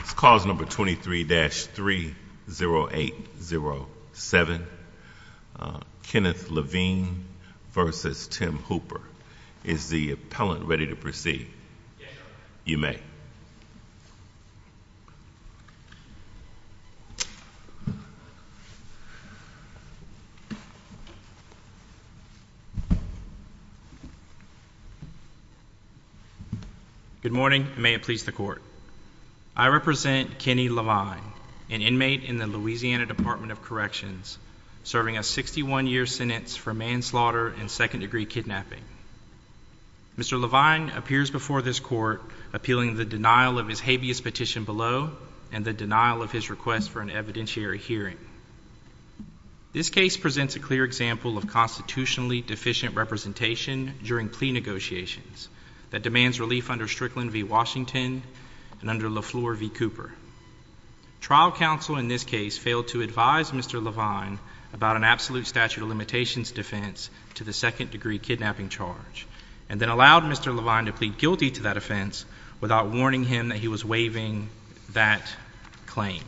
It's clause number 23-30807, Kenneth Levine v. Tim Hooper. Is the appellant ready to proceed? Yes, Your Honor. You may. Good morning, and may it please the Court. I represent Kenny Levine, an inmate in the Louisiana Department of Corrections, serving a 61-year sentence for manslaughter and second-degree kidnapping. Mr. Levine appears before this Court appealing the denial of his habeas petition below and the denial of his request for an evidentiary hearing. This case presents a clear example of constitutionally deficient representation during plea negotiations that demands relief under Strickland v. Washington and under Lafleur v. Cooper. Trial counsel in this case failed to advise Mr. Levine about an absolute statute of limitations defense to the second-degree kidnapping charge, and then allowed Mr. Levine to plead guilty to that offense without warning him that he was waiving that claim.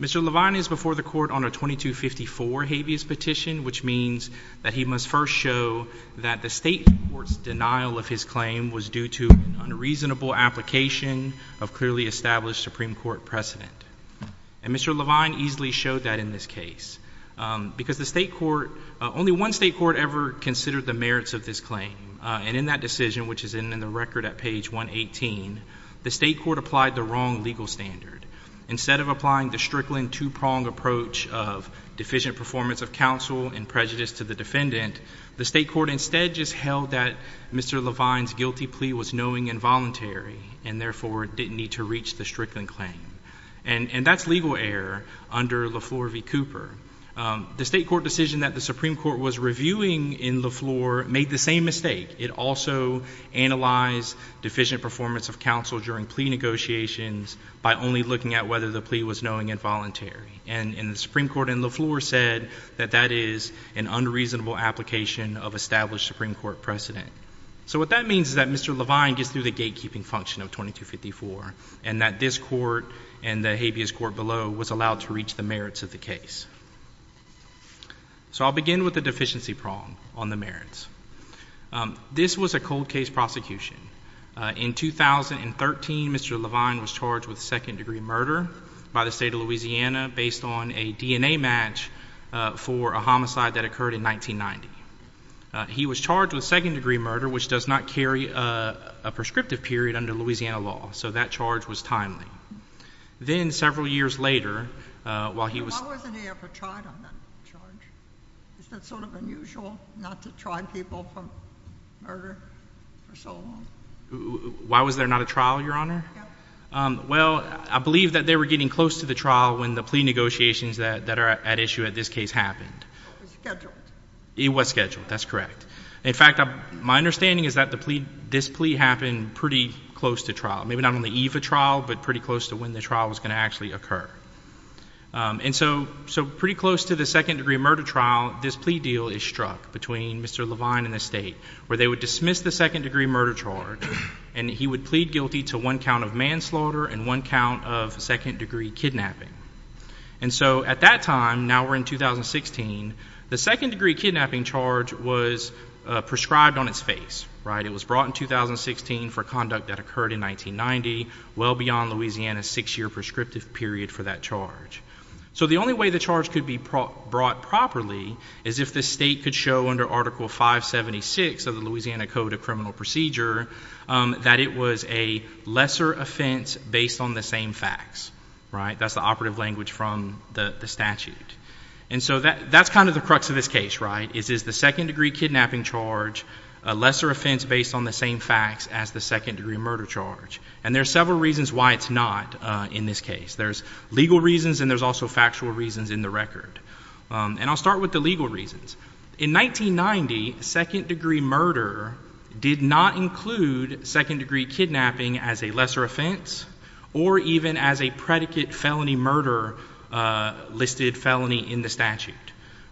Mr. Levine is before the Court on a 2254 habeas petition, which means that he must first show that the State Court's denial of his claim was due to an unreasonable application of clearly established Supreme Court precedent. And Mr. Levine easily showed that in this case, because the State Court, only one State Court ever considered the merits of this claim, and in that decision, which is in the record at page 118, the State Court applied the wrong legal standard. Instead of applying the Strickland two-pronged approach of deficient performance of counsel and prejudice to the defendant, the State Court instead just held that Mr. Levine's And that's legal error under Lafleur v. Cooper. The State Court decision that the Supreme Court was reviewing in Lafleur made the same mistake. It also analyzed deficient performance of counsel during plea negotiations by only looking at whether the plea was knowing and voluntary. And the Supreme Court in Lafleur said that that is an unreasonable application of established Supreme Court precedent. So what that means is that Mr. Levine gets through the gatekeeping function of 2254, and that this court and the habeas court below was allowed to reach the merits of the case. So I'll begin with the deficiency prong on the merits. This was a cold case prosecution. In 2013, Mr. Levine was charged with second-degree murder by the State of Louisiana based on a DNA match for a homicide that occurred in 1990. He was charged with second-degree murder, which does not carry a prescriptive period under Louisiana law. So that charge was timely. Then several years later, while he was... Why wasn't he ever tried on that charge? Is that sort of unusual, not to try people for murder for so long? Why was there not a trial, Your Honor? Well, I believe that they were getting close to the trial when the plea negotiations that are at issue at this case happened. It was scheduled. It was scheduled. That's correct. In fact, my understanding is that this plea happened pretty close to trial. Maybe not on the eve of trial, but pretty close to when the trial was going to actually occur. And so pretty close to the second-degree murder trial, this plea deal is struck between Mr. Levine and the State, where they would dismiss the second-degree murder charge, and he would plead guilty to one count of manslaughter and one count of second-degree kidnapping. And so at that time, now we're in 2016, the second-degree kidnapping charge was prescribed on its face. Right? It was brought in 2016 for conduct that occurred in 1990, well beyond Louisiana's six-year prescriptive period for that charge. So the only way the charge could be brought properly is if the State could show under Article 576 of the Louisiana Code of Criminal Procedure that it was a lesser offense based on the same facts. Right? That's the operative language from the statute. And so that's kind of the crux of this case, right? It is the second-degree kidnapping charge, a lesser offense based on the same facts as the second-degree murder charge. And there are several reasons why it's not in this case. There's legal reasons, and there's also factual reasons in the record. And I'll start with the legal reasons. In 1990, second-degree murder did not include second-degree kidnapping as a lesser offense or even as a predicate felony murder listed felony in the statute.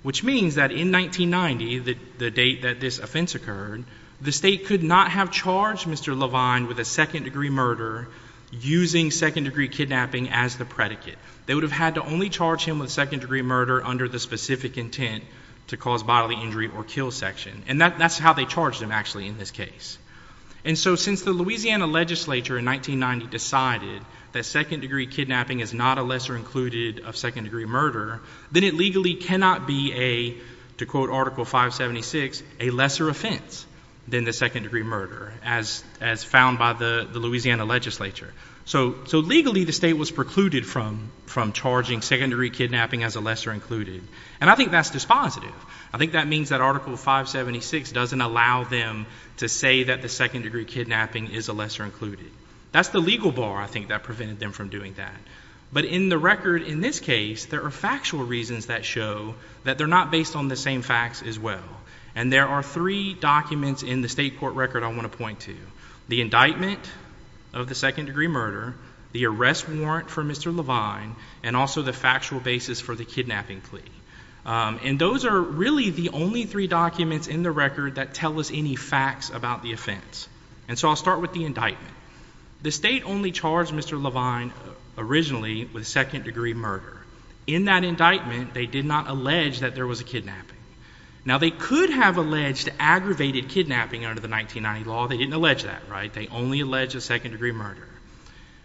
Which means that in 1990, the date that this offense occurred, the State could not have charged Mr. Levine with a second-degree murder using second-degree kidnapping as the predicate. They would have had to only charge him with second-degree murder under the specific intent to cause bodily injury or kill section. And that's how they charged him, actually, in this case. And so since the Louisiana legislature in 1990 decided that second-degree kidnapping is not a lesser included of second-degree murder, then it legally cannot be a, to quote Article 576, a lesser offense than the second-degree murder as found by the Louisiana legislature. So legally, the State was precluded from charging second-degree kidnapping as a lesser included. And I think that's dispositive. I think that means that Article 576 doesn't allow them to say that the second-degree kidnapping is a lesser included. That's the legal bar, I think, that prevented them from doing that. But in the record in this case, there are factual reasons that show that they're not based on the same facts as well. And there are three documents in the State court record I want to point to. The indictment of the second-degree murder, the arrest warrant for Mr. Levine, and also the factual basis for the kidnapping plea. And those are really the only three documents in the record that tell us any facts about the offense. And so I'll start with the indictment. The State only charged Mr. Levine originally with second-degree murder. In that indictment, they did not allege that there was a kidnapping. Now they could have alleged aggravated kidnapping under the 1990 law. They didn't allege that, right? They only allege a second-degree murder.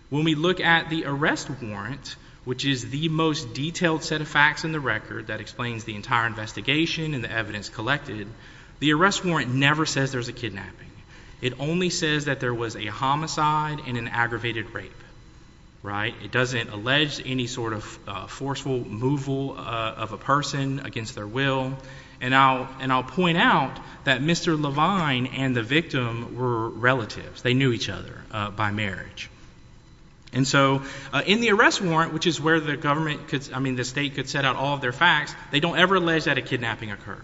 When we look at the arrest warrant, which is the most detailed set of facts in the record that explains the entire investigation and the evidence collected, the arrest warrant never says there's a kidnapping. It only says that there was a homicide and an aggravated rape, right? It doesn't allege any sort of forceful removal of a person against their will. And I'll point out that Mr. Levine and the victim were relatives. They knew each other by marriage. And so in the arrest warrant, which is where the government could, I mean, the State could set out all of their facts, they don't ever allege that a kidnapping occurred,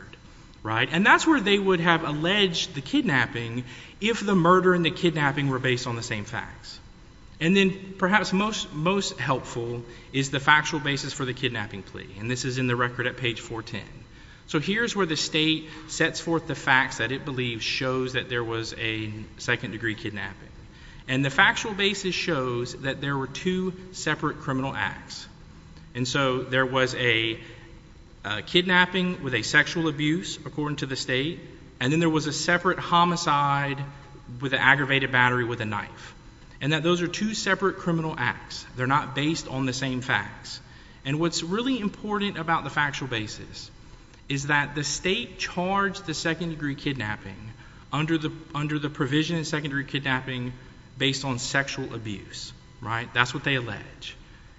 right? And that's where they would have alleged the kidnapping if the murder and the kidnapping were based on the same facts. And then perhaps most helpful is the factual basis for the kidnapping plea. And this is in the record at page 410. So here's where the State sets forth the facts that it believes shows that there was a second-degree kidnapping. And the factual basis shows that there were two separate criminal acts. And so there was a kidnapping with a sexual abuse, according to the State, and then there was a separate homicide with an aggravated battery with a knife. And that those are two separate criminal acts. They're not based on the same facts. And what's really important about the factual basis is that the State charged the second-degree kidnapping under the provision of second-degree kidnapping based on sexual abuse, right? That's what they allege.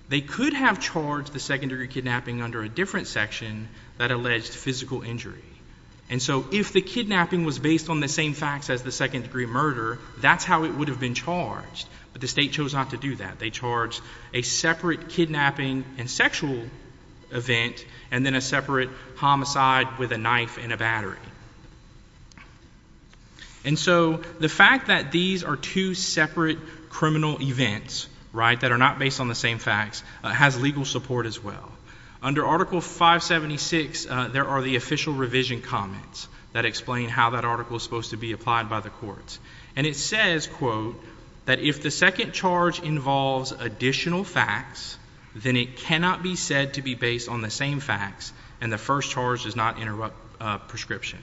They could have charged the second-degree kidnapping under a different section that alleged physical injury. And so if the kidnapping was based on the same facts as the second-degree murder, that's how it would have been charged, but the State chose not to do that. They charged a separate kidnapping and sexual event, and then a separate homicide with a knife and a battery. And so the fact that these are two separate criminal events, right, that are not based on the same facts, has legal support as well. Under Article 576, there are the official revision comments that explain how that article is supposed to be applied by the courts. And it says, quote, that if the second charge involves additional facts, then it cannot be said to be based on the same facts, and the first charge does not interrupt prescription.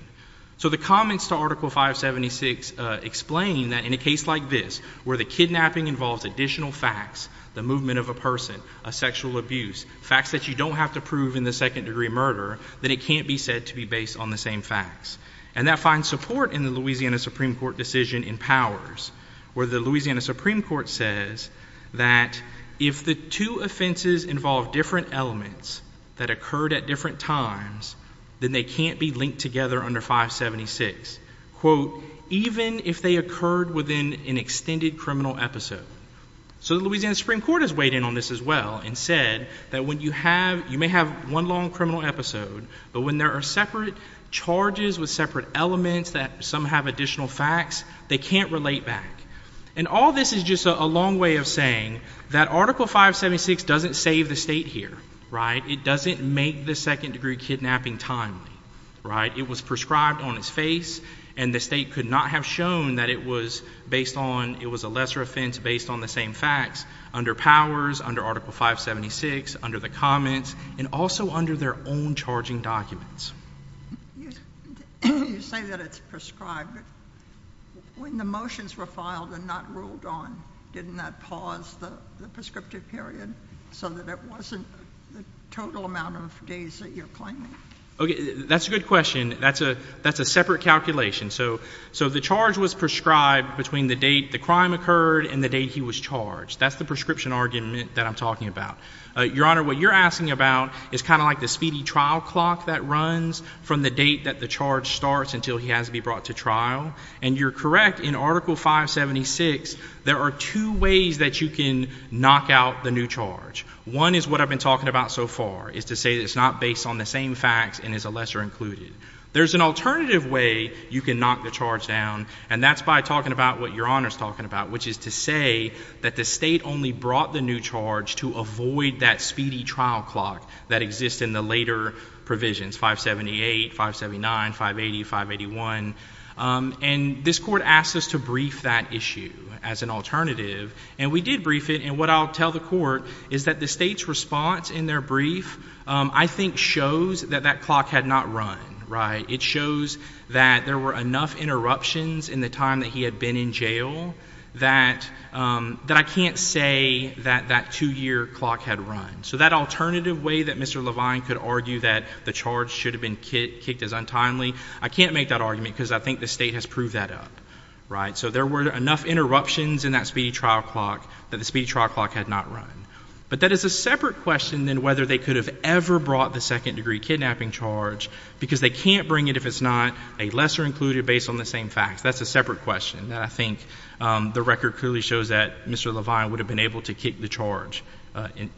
So the comments to Article 576 explain that in a case like this, where the kidnapping involves additional facts, the movement of a person, a sexual abuse, facts that you don't have to prove in the second-degree murder, that it can't be said to be based on the same facts. And that finds support in the Louisiana Supreme Court decision in powers, where the Louisiana Supreme Court says that if the two offenses involve different elements that occurred at different times, then they can't be linked together under 576. Quote, even if they occurred within an extended criminal episode. So the Louisiana Supreme Court has weighed in on this as well and said that when you have, you may have one long criminal episode, but when there are separate charges with separate elements that some have additional facts, they can't relate back. And all this is just a long way of saying that Article 576 doesn't save the state here, right? It doesn't make the second-degree kidnapping timely, right? It was prescribed on its face, and the state could not have shown that it was based on, it was a lesser offense based on the same facts under powers, under Article 576, under the comments, and also under their own charging documents. You say that it's prescribed. When the motions were filed and not ruled on, didn't that pause the prescriptive period so that it wasn't the total amount of days that you're claiming? Okay, that's a good question. That's a separate calculation. So the charge was prescribed between the date the crime occurred and the date he was charged. That's the prescription argument that I'm talking about. Your Honor, what you're asking about is kind of like the speedy trial clock that runs from the date that the charge starts until he has to be brought to trial. And you're correct. In Article 576, there are two ways that you can knock out the new charge. One is what I've been talking about so far, is to say that it's not based on the same facts and is a lesser included. There's an alternative way you can knock the charge down, and that's by talking about what Your Honor's talking about, which is to say that the state only brought the new charge to avoid that speedy trial clock that exists in the later provisions, 578, 579, 580, 581. And this Court asked us to brief that issue as an alternative, and we did brief it. And what I'll tell the Court is that the state's response in their brief, I think, shows that that clock had not run, right? It shows that there were enough interruptions in the time that he had been in jail that I can't say that that two-year clock had run. So that alternative way that Mr. Levine could argue that the charge should have been kicked as untimely, I can't make that argument because I think the state has proved that up, right? So there were enough interruptions in that speedy trial clock that the speedy trial clock had not run. But that is a separate question than whether they could have ever brought the second-degree kidnapping charge because they can't bring it if it's not a lesser included based on the same facts. That's a separate question. And I think the record clearly shows that Mr. Levine would have been able to kick the charge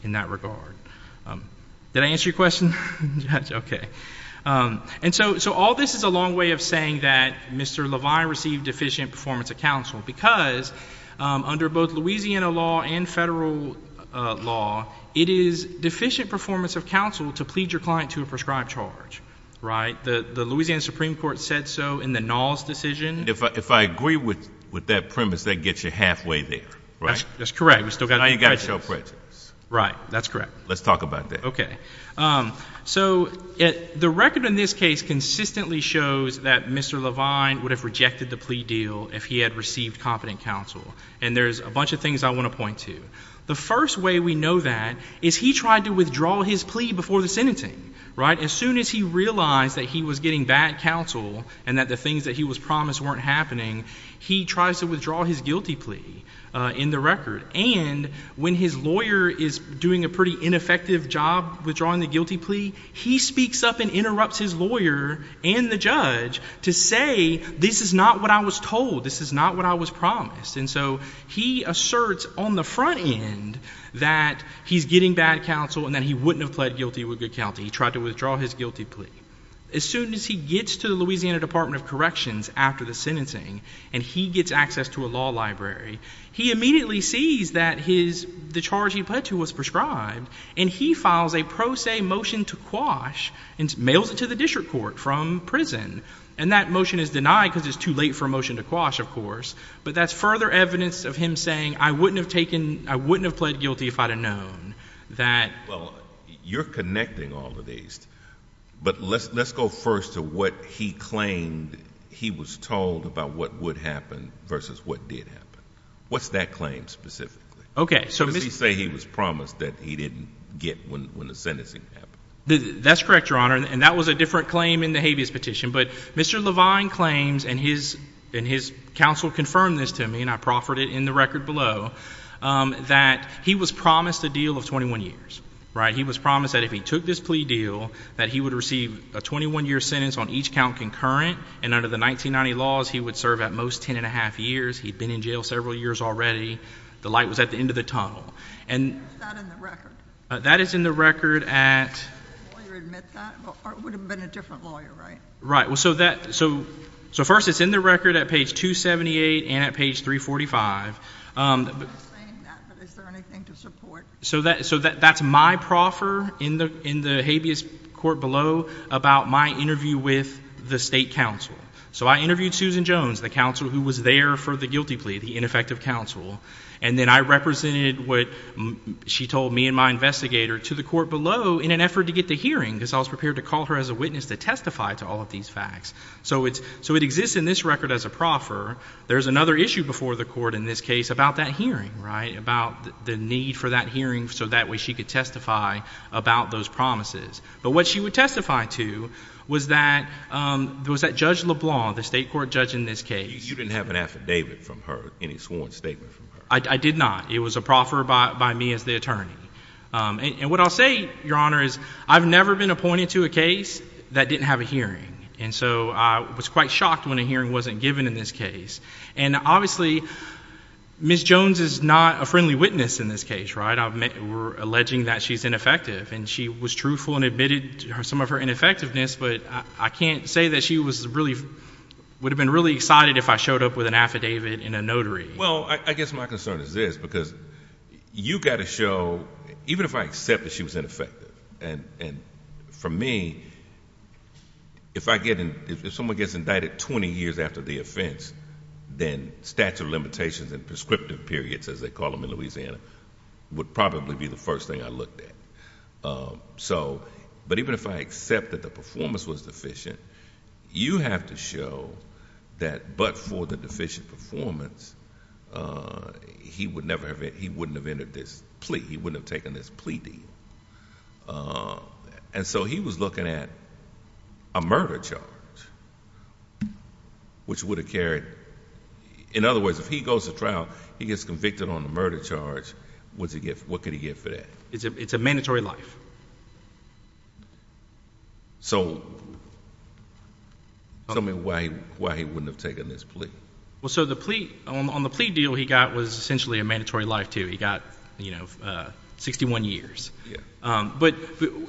in that regard. Did I answer your question, Judge? Okay. And so all this is a long way of saying that Mr. Levine received deficient performance of counsel because under both Louisiana law and federal law, it is deficient performance of counsel to plead your client to a prescribed charge, right? The Louisiana Supreme Court said so in the Knowles decision. If I agree with that premise, that gets you halfway there, right? That's correct. We still got prejudice. Now you got to show prejudice. Right. That's correct. Let's talk about that. Okay. So the record in this case consistently shows that Mr. Levine would have rejected the plea deal if he had received competent counsel. And there's a bunch of things I want to point to. The first way we know that is he tried to withdraw his plea before the sentencing, right? As soon as he realized that he was getting bad counsel and that the things that he was promised weren't happening, he tries to withdraw his guilty plea in the record. And when his lawyer is doing a pretty ineffective job withdrawing the guilty plea, he speaks up and interrupts his lawyer and the judge to say, this is not what I was told. This is not what I was promised. And so he asserts on the front end that he's getting bad counsel and that he wouldn't have pled guilty with good counsel. He tried to withdraw his guilty plea. As soon as he gets to the Louisiana Department of Corrections after the sentencing and he gets access to a law library, he immediately sees that the charge he pled to was prescribed and he files a pro se motion to quash and mails it to the district court from prison. And that motion is denied because it's too late for a motion to quash, of course. But that's further evidence of him saying, I wouldn't have taken, I wouldn't have pled guilty if I'd have known that. Well, you're connecting all of these, but let's, let's go first to what he claimed he was told about what would happen versus what did happen. What's that claim specifically? Okay. So does he say he was promised that he didn't get when, when the sentencing happened? That's correct, Your Honor. And that was a different claim in the habeas petition. But Mr. Levine claims, and his, and his counsel confirmed this to me, and I proffered it in the record below, that he was promised a deal of 21 years, right? He was promised that if he took this plea deal, that he would receive a 21 year sentence on each count concurrent. And under the 1990 laws, he would serve at most 10 and a half years. He'd been in jail several years already. The light was at the end of the tunnel. And that is in the record at, Well, you admit that, but it would have been a different lawyer, right? Right. Well, so that, so, so first it's in the record at page 278 and at page 345. I'm not saying that, but is there anything to support? So that, so that, that's my proffer in the, in the habeas court below about my interview with the state counsel. So I interviewed Susan Jones, the counsel who was there for the guilty plea, the ineffective counsel. And then I represented what she told me and my investigator to the court below in an effort to get the hearing, because I was prepared to call her as a witness to testify to all of these facts. So it's, so it exists in this record as a proffer. There's another issue before the court in this case about that hearing, right? About the need for that hearing, so that way she could testify about those promises. But what she would testify to was that there was that judge LeBlanc, the state court judge in this case. So you didn't have an affidavit from her, any sworn statement from her? I did not. It was a proffer by, by me as the attorney. And what I'll say, Your Honor, is I've never been appointed to a case that didn't have a hearing. And so I was quite shocked when a hearing wasn't given in this case. And obviously Ms. Jones is not a friendly witness in this case, right? I've, we're alleging that she's ineffective and she was truthful and admitted some of her ineffectiveness, but I can't say that she was really, would have been really excited if I showed up with an affidavit and a notary. Well, I guess my concern is this, because you've got to show, even if I accept that she was ineffective, and for me, if I get, if someone gets indicted 20 years after the offense, then statute of limitations and prescriptive periods, as they call them in Louisiana, would probably be the first thing I looked at. So, but even if I accept that the performance was deficient, you have to show that, but for the deficient performance, he would never have, he wouldn't have entered this plea. He wouldn't have taken this plea deal. And so he was looking at a murder charge, which would have carried, in other words, if he goes to trial, he gets convicted on a murder charge, what's he get, what could he get for that? It's a mandatory life. So, tell me why he wouldn't have taken this plea? Well, so the plea, on the plea deal he got was essentially a mandatory life, too. He got, you know, 61 years. But-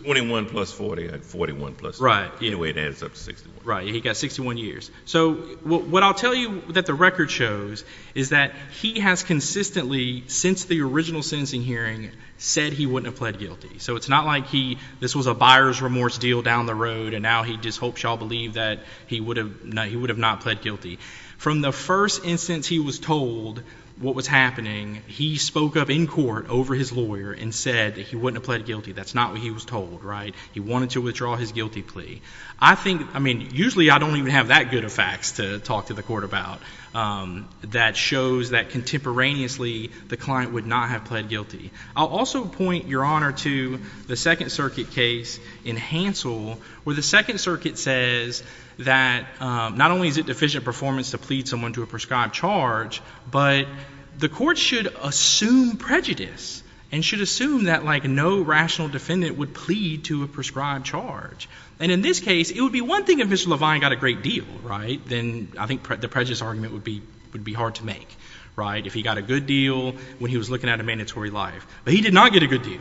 21 plus 40, I had 41 plus 40. Right. Anyway, it adds up to 61. Right. He got 61 years. So, what I'll tell you that the record shows is that he has consistently, since the original sentencing hearing, said he wouldn't have pled guilty. So it's not like he, this was a buyer's remorse deal down the road, and now he just hopes y'all believe that he would have not pled guilty. From the first instance he was told what was happening, he spoke up in court over his lawyer and said that he wouldn't have pled guilty. That's not what he was told, right? He wanted to withdraw his guilty plea. I think, I mean, usually I don't even have that good of facts to talk to the court about that shows that contemporaneously the client would not have pled guilty. I'll also point, Your Honor, to the Second Circuit case in Hansel, where the Second Circuit says that not only is it deficient performance to plead someone to a prescribed charge, but the court should assume prejudice and should assume that, like, no rational defendant would plead to a prescribed charge. And in this case, it would be one thing if Mr. Levine got a great deal, right? Then I think the prejudice argument would be hard to make, right? If he got a good deal when he was looking at a mandatory life. But he did not get a good deal.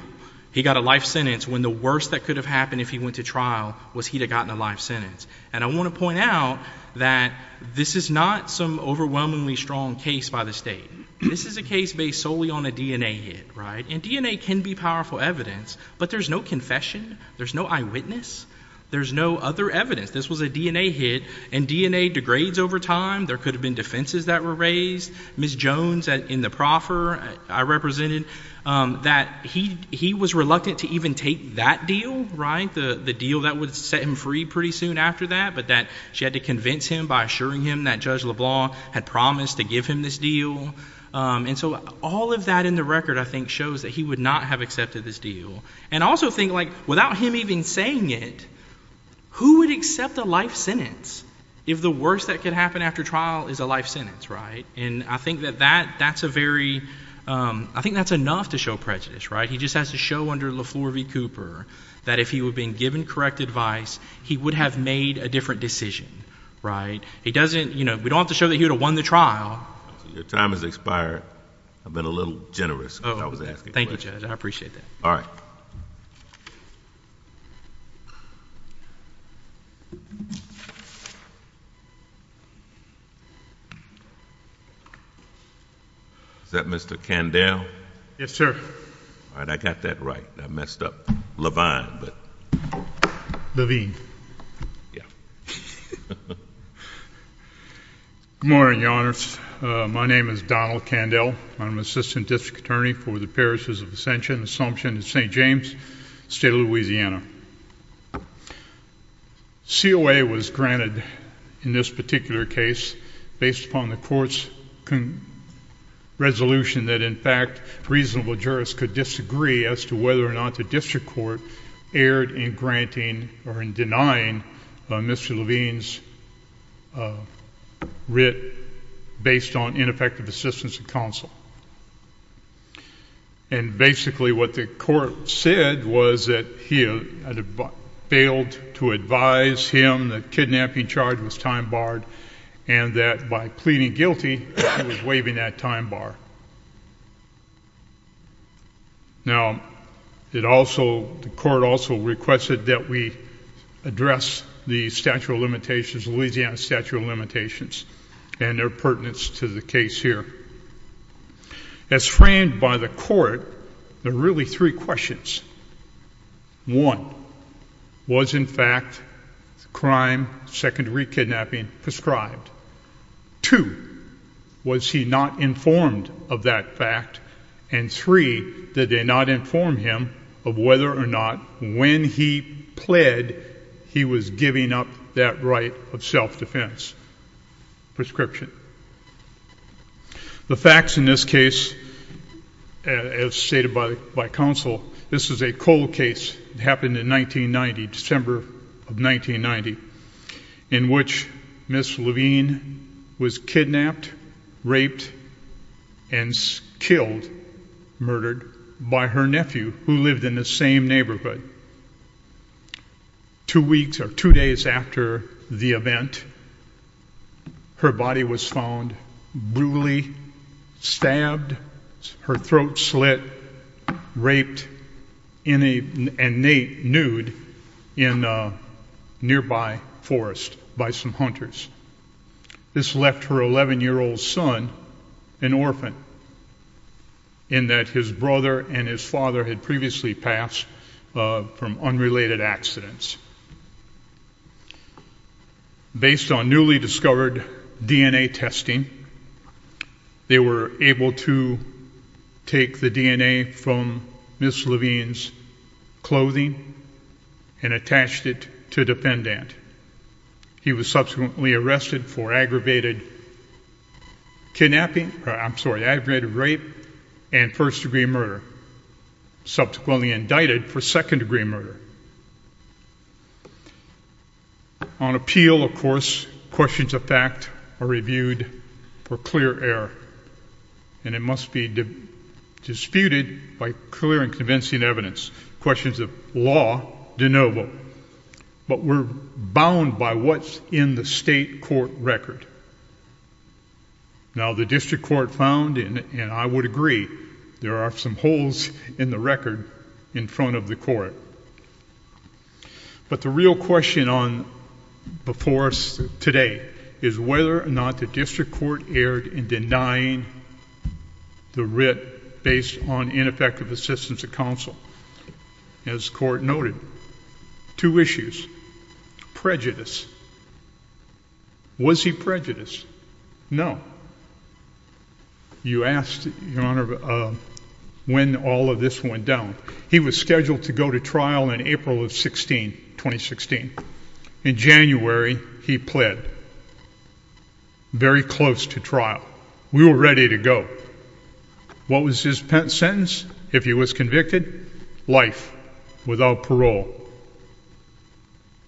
He got a life sentence when the worst that could have happened if he went to trial was he'd have gotten a life sentence. And I want to point out that this is not some overwhelmingly strong case by the state. This is a case based solely on a DNA hit, right? And DNA can be powerful evidence, but there's no confession, there's no eyewitness, there's no other evidence. This was a DNA hit, and DNA degrades over time. There could have been defenses that were raised. Ms. Jones in the proffer I represented, that he was reluctant to even take that deal, right? The deal that would set him free pretty soon after that, but that she had to convince him by assuring him that Judge LeBlanc had promised to give him this deal. And so all of that in the record, I think, shows that he would not have accepted this deal. And I also think, like, without him even saying it, who would accept a life sentence if the worst that could happen after trial is a life sentence, right? And I think that that's a very, I think that's enough to show prejudice, right? He just has to show under LeFleur v. Cooper that if he would have been given correct advice, he would have made a different decision, right? He doesn't, you know, we don't have to show that he would have won the trial. Your time has expired. I've been a little generous. Oh, thank you, Judge. I appreciate that. All right. Is that Mr. Candell? Yes, sir. All right. I got that right. I messed up. Levine, but. Levine. Yeah. Good morning, Your Honors. My name is Donald Candell. I'm an assistant district attorney for the parishes of Ascension Assumption in St. James, State of Louisiana. COA was granted in this particular case based upon the court's resolution that in fact reasonable jurists could disagree as to whether or not the district court erred in granting or in And basically what the court said was that he had failed to advise him the kidnapping charge was time barred and that by pleading guilty, he was waiving that time bar. Now it also, the court also requested that we address the statute of limitations, Louisiana statute of limitations and their pertinence to the case here. As framed by the court, there are really three questions. One, was in fact crime secondary kidnapping prescribed? Two, was he not informed of that fact? And three, did they not inform him of whether or not when he pled, he was giving up that right of self-defense prescription? The facts in this case, as stated by counsel, this is a cold case that happened in 1990, December of 1990, in which Ms. Levine was kidnapped, raped and killed, murdered by her nephew who lived in the same neighborhood. Two weeks or two days after the event, her body was found brutally stabbed, her throat slit, raped in a nude in a nearby forest by some hunters. This left her 11-year-old son an orphan in that his brother and his father had previously passed from unrelated accidents. Based on newly discovered DNA testing, they were able to take the DNA from Ms. Levine's clothing and attached it to a defendant. He was subsequently arrested for aggravated kidnapping, I'm sorry, aggravated rape and first-degree murder, subsequently indicted for second-degree murder. On appeal, of course, questions of fact are reviewed for clear error and it must be disputed by clear and convincing evidence. Questions of law de novo, but we're bound by what's in the state court record. Now, the district court found, and I would agree, there are some holes in the record in front of the court, but the real question before us today is whether or not the district court erred in denying the writ based on ineffective assistance of counsel. As the court noted, two issues, prejudice, was he prejudiced? No. You asked, Your Honor, when all of this went down. He was scheduled to go to trial in April of 16, 2016. In January, he pled very close to trial. We were ready to go. What was his sentence if he was convicted? Life without parole.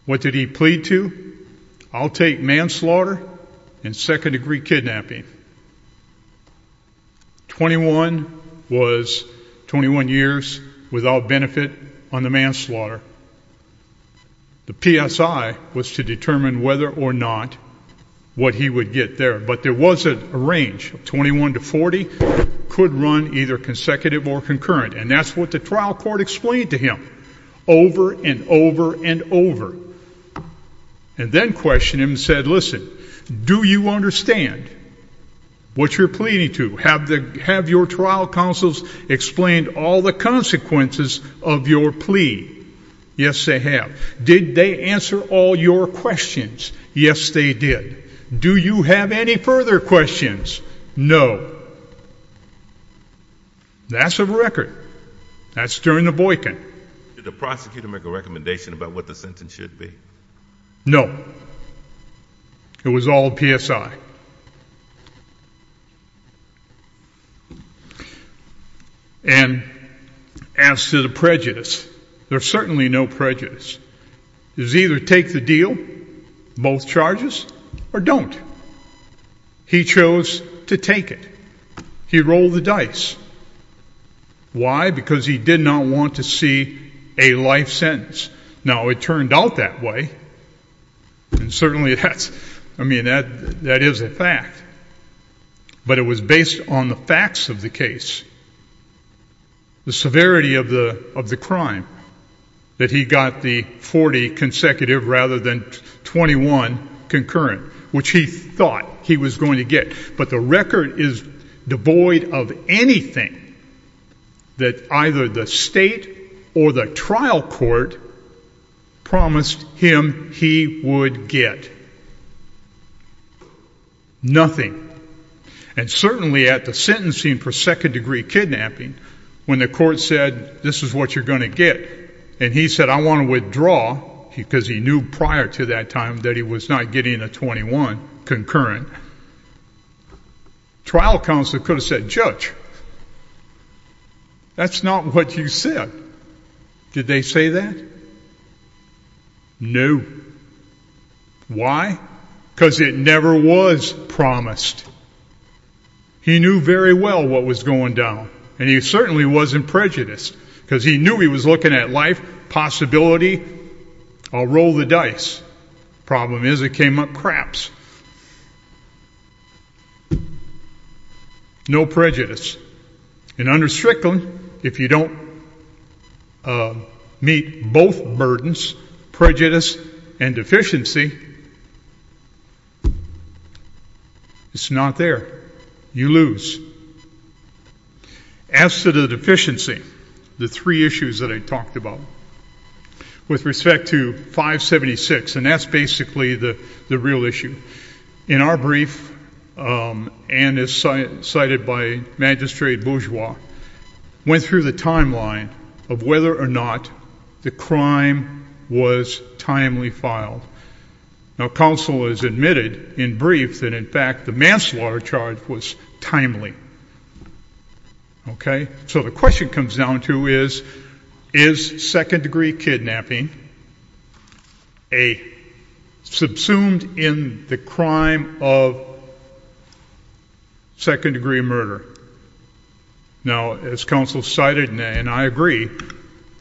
What did he plead to? I'll take manslaughter and second-degree kidnapping. 21 was 21 years without benefit on the manslaughter. The PSI was to determine whether or not what he would get there, but there was a range of 21 to 40, could run either consecutive or concurrent, and that's what the trial court explained to him over and over and over. And then questioned him and said, listen, do you understand what you're pleading to? Have your trial counsels explained all the consequences of your plea? Yes, they have. Did they answer all your questions? Yes, they did. Do you have any further questions? No. That's a record. That's during the boycott. Did the prosecutor make a recommendation about what the sentence should be? No. It was all PSI. And as to the prejudice, there's certainly no prejudice. It was either take the deal, both charges, or don't. He chose to take it. He rolled the dice. Why? Because he did not want to see a life sentence. Now, it turned out that way, and certainly that's, I mean, that is a fact. But it was based on the facts of the case. The severity of the crime, that he got the 40 consecutive rather than 21 concurrent, which he thought he was going to get. But the record is devoid of anything that either the state or the trial court promised him he would get. Nothing. And certainly at the sentencing for second-degree kidnapping, when the court said, this is what you're going to get, and he said, I want to withdraw, because he knew prior to that time that he was not getting a 21 concurrent, trial counsel could have said, Judge, that's not what you said. Did they say that? No. Why? Because it never was promised. He knew very well what was going down, and he certainly wasn't prejudiced, because he knew he was looking at life, possibility, I'll roll the dice. Problem is, it came up craps. No prejudice. And under Strickland, if you don't meet both burdens, prejudice and deficiency, it's not there. You lose. As to the deficiency, the three issues that I talked about with respect to 576, and that's basically the real issue. In our brief, and as cited by Magistrate Bourgeois, went through the timeline of whether or not the crime was timely filed. Now, counsel has admitted in brief that, in fact, the manslaughter charge was timely. So the question comes down to is, is second-degree kidnapping subsumed in the crime of second-degree murder? Now, as counsel cited, and I agree,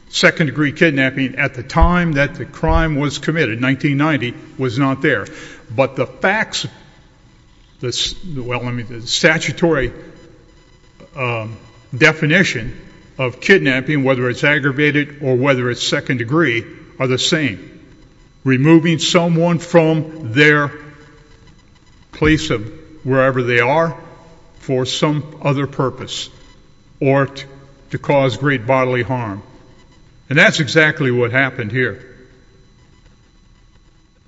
second-degree kidnapping at the time that the crime was committed, 1990, was not there. But the facts, the statutory definition of kidnapping, whether it's aggravated or whether it's second-degree, are the same. Removing someone from their place of wherever they are for some other purpose or to cause great bodily harm. And that's exactly what happened here.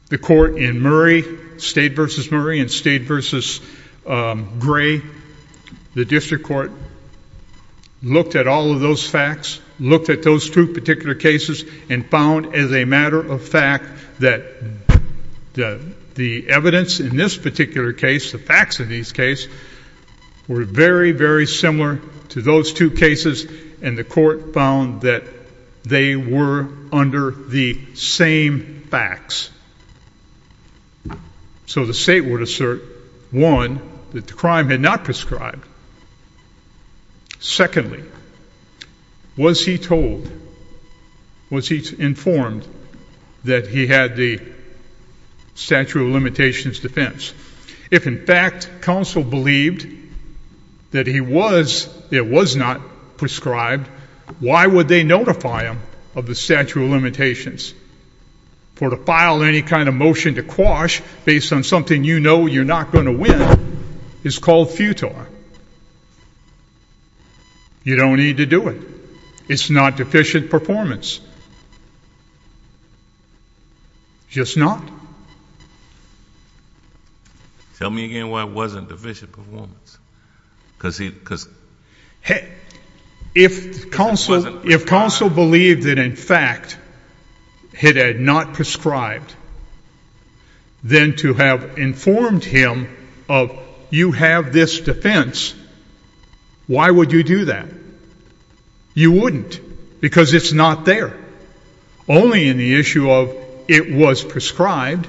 The court in Murray, State v. Murray and State v. Gray, the district court looked at all of those facts, looked at those two particular cases, and found, as a matter of fact, that the evidence in this particular case, the facts of these cases, were very, very similar to those two cases. And the court found that they were under the same facts. So the State would assert, one, that the crime had not prescribed. Secondly, was he told, was he informed that he had the statute of limitations defense? If, in fact, counsel believed that he was, it was not prescribed, why would they notify him of the statute of limitations? For the file of any kind of motion to quash based on something you know you're not going to win is called futile. You don't need to do it. It's not deficient performance, just not. Tell me again why it wasn't deficient performance, because he, because. If counsel believed that, in fact, it had not prescribed, then to have informed him of, you have this defense, why would you do that? You wouldn't, because it's not there. Only in the issue of, it was prescribed,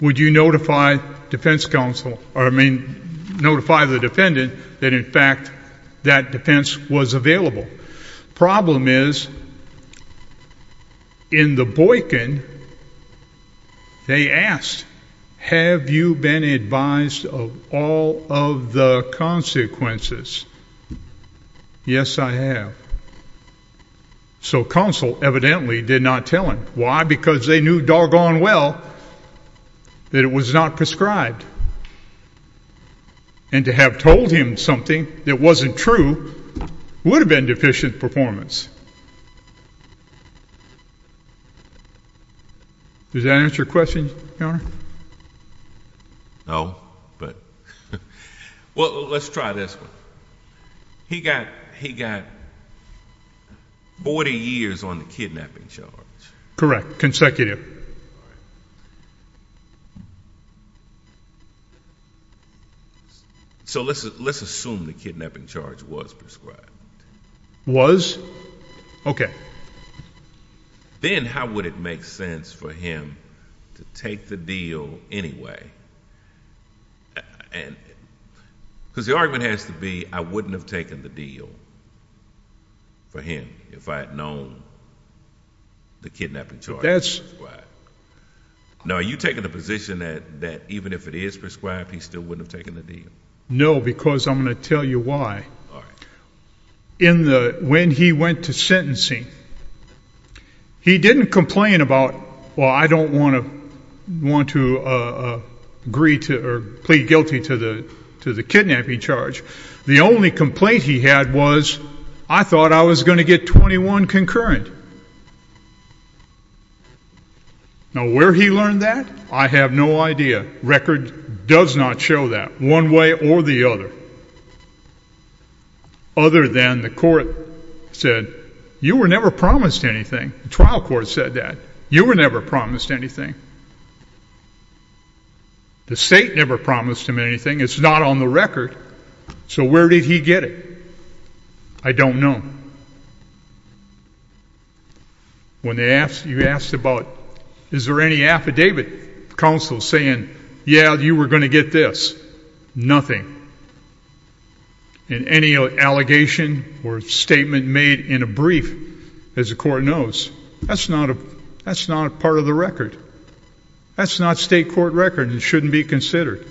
would you notify defense counsel, I mean, notify the defendant that, in fact, that defense was available. Problem is, in the Boykin, they asked, have you been advised of all of the consequences? Yes, I have. So counsel evidently did not tell him. Why? Because they knew doggone well that it was not prescribed. And to have told him something that wasn't true would have been deficient performance. Does that answer your question, Your Honor? No, but, well, let's try this one. He got 40 years on the kidnapping charge. Correct, consecutive. So let's assume the kidnapping charge was prescribed. Was? Okay. Then how would it make sense for him to take the deal anyway? And, because the argument has to be, I wouldn't have taken the deal for him if I had known the kidnapping charge was prescribed. Prescribed. Now, are you taking the position that even if it is prescribed, he still wouldn't have taken the deal? No, because I'm going to tell you why. In the, when he went to sentencing, he didn't complain about, well, I don't want to plead guilty to the kidnapping charge. The only complaint he had was, I thought I was going to get 21 concurrent. Now, where he learned that, I have no idea. Record does not show that, one way or the other. Other than the court said, you were never promised anything. The trial court said that. You were never promised anything. The state never promised him anything. It's not on the record. So where did he get it? I don't know. When they asked, you asked about, is there any affidavit, counsel saying, yeah, you were going to get this, nothing. And any allegation or statement made in a brief, as the court knows, that's not a, that's not a part of the record. That's not state court record and shouldn't be considered.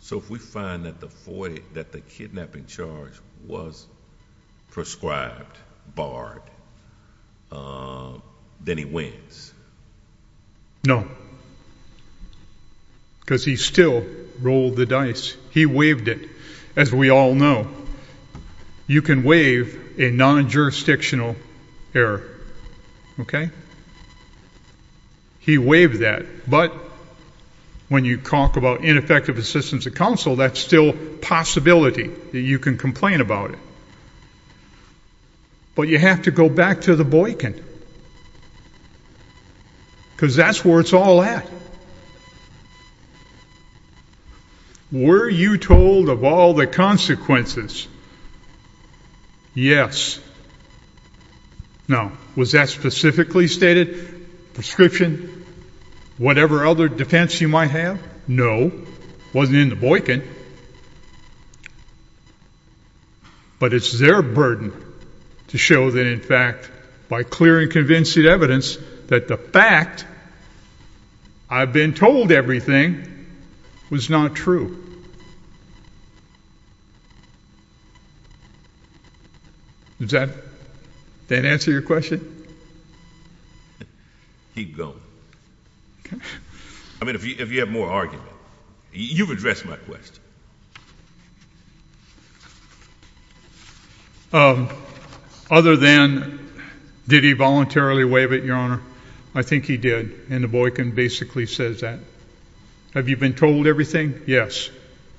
So if we find that the kidnapping charge was prescribed, barred, then he wins? No, because he still rolled the dice. He waived it, as we all know. You can waive a non-jurisdictional error, okay? He waived that. But when you talk about ineffective assistance of counsel, that's still possibility, that you can complain about it. But you have to go back to the boycott, because that's where it's all at. Were you told of all the consequences? Yes. Now, was that specifically stated, prescription, whatever other defense you might have? No, it wasn't in the boycott. But it's their burden to show that, in fact, by clear and convincing evidence, that the fact I've been told everything was not true. Does that answer your question? He'd go. I mean, if you have more argument. You've addressed my question. Other than, did he voluntarily waive it, your honor? I think he did, and the boycott basically says that. Have you been told everything? Yes.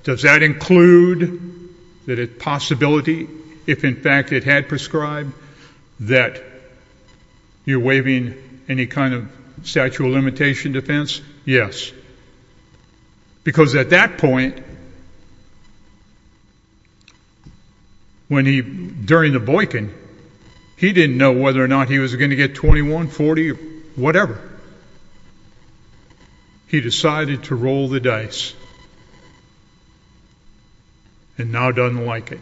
Does that include the possibility, if in fact it had prescribed, that you're waiving any kind of statute of limitation defense? Yes, because at that point, when he, during the boycott, he didn't know whether or not he was going to get 21, 40, whatever. He decided to roll the dice, and now doesn't like it.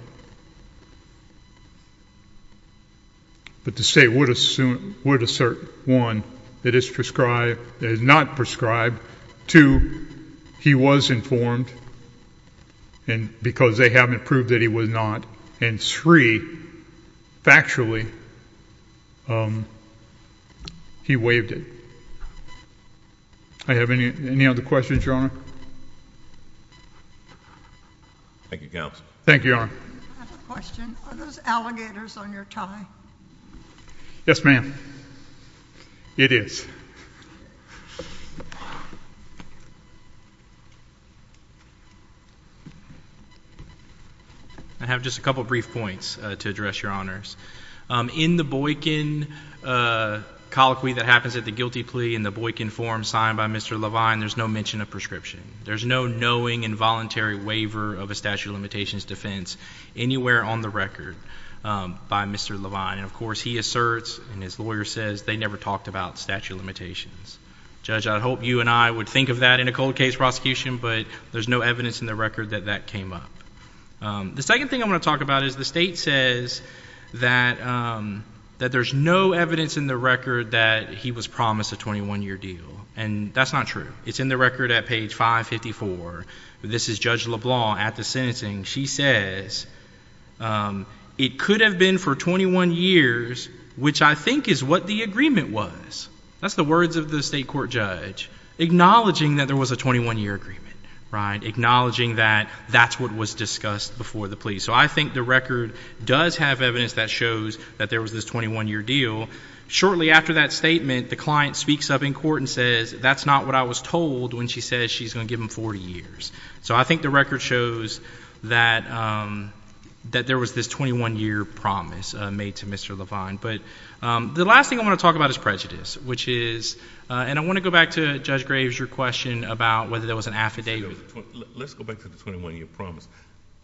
But the state would assert, one, that it's prescribed, that it's not prescribed. Two, he was informed, and because they haven't proved that he was not. And three, factually, he waived it. I have any other questions, your honor? Thank you, counselor. Thank you, your honor. I have a question. Are those alligators on your tie? Yes, ma'am. It is. I have just a couple brief points to address, your honors. In the Boykin colloquy that happens at the guilty plea, in the Boykin form signed by Mr. Levine, there's no mention of prescription. There's no knowing involuntary waiver of a statute of limitations defense anywhere on the record by Mr. Levine. And of course, he asserts, and his lawyer says, they never talked about statute of limitations. Judge, I'd hope you and I would think of that in a cold case prosecution, but there's no evidence in the record that that came up. The second thing I want to talk about is the state says that there's no evidence in the record that he was promised a 21-year deal, and that's not true. It's in the record at page 554. This is Judge LeBlanc at the sentencing. She says, it could have been for 21 years, which I think is what the agreement was. That's the words of the state court judge, acknowledging that there was a 21-year agreement, right? Acknowledging that that's what was discussed before the plea. So I think the record does have evidence that shows that there was this 21-year deal. Shortly after that statement, the client speaks up in court and says, that's not what I was told when she says she's going to give him 40 years. So I think the record shows that there was this 21-year promise made to Mr. Levine. But the last thing I want to talk about is prejudice, which is, and I want to go back to Judge Graves, your question about whether there was an affidavit. Let's go back to the 21-year promise.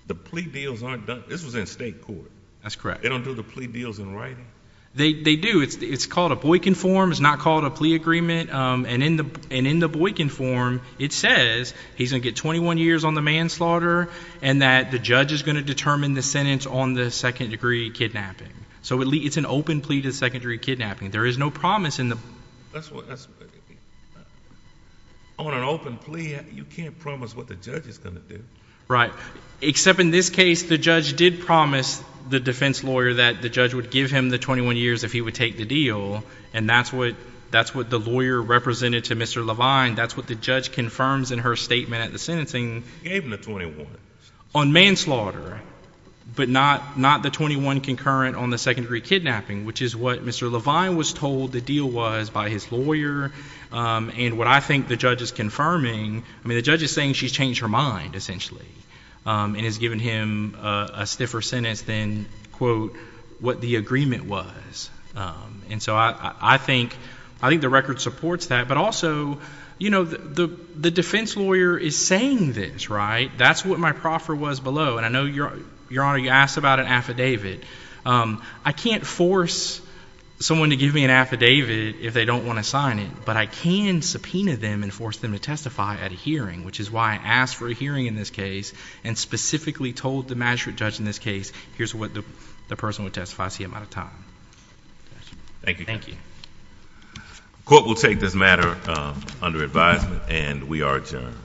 The plea deals aren't done, this was in state court. That's correct. They don't do the plea deals in writing? They do, it's called a Boykin form, it's not called a plea agreement. And in the Boykin form, it says he's going to get 21 years on the manslaughter, and that the judge is going to determine the sentence on the second degree kidnapping. So it's an open plea to the second degree kidnapping. There is no promise in the. That's what, on an open plea, you can't promise what the judge is going to do. Right, except in this case, the judge did promise the defense lawyer that the judge would give him the 21 years if he would take the deal. And that's what the lawyer represented to Mr. Levine. That's what the judge confirms in her statement at the sentencing. Gave him the 21. On manslaughter, but not the 21 concurrent on the second degree kidnapping, which is what Mr. Levine was told the deal was by his lawyer. And what I think the judge is confirming, I mean the judge is saying she's changed her mind, essentially. And has given him a stiffer sentence than, quote, what the agreement was. And so I think the record supports that. But also, the defense lawyer is saying this, right? That's what my proffer was below. And I know, Your Honor, you asked about an affidavit. I can't force someone to give me an affidavit if they don't want to sign it. But I can subpoena them and force them to testify at a hearing. Which is why I asked for a hearing in this case. And specifically told the magistrate judge in this case, here's what the person would testify, I see I'm out of time. Thank you. Court will take this matter under advisement and we are adjourned.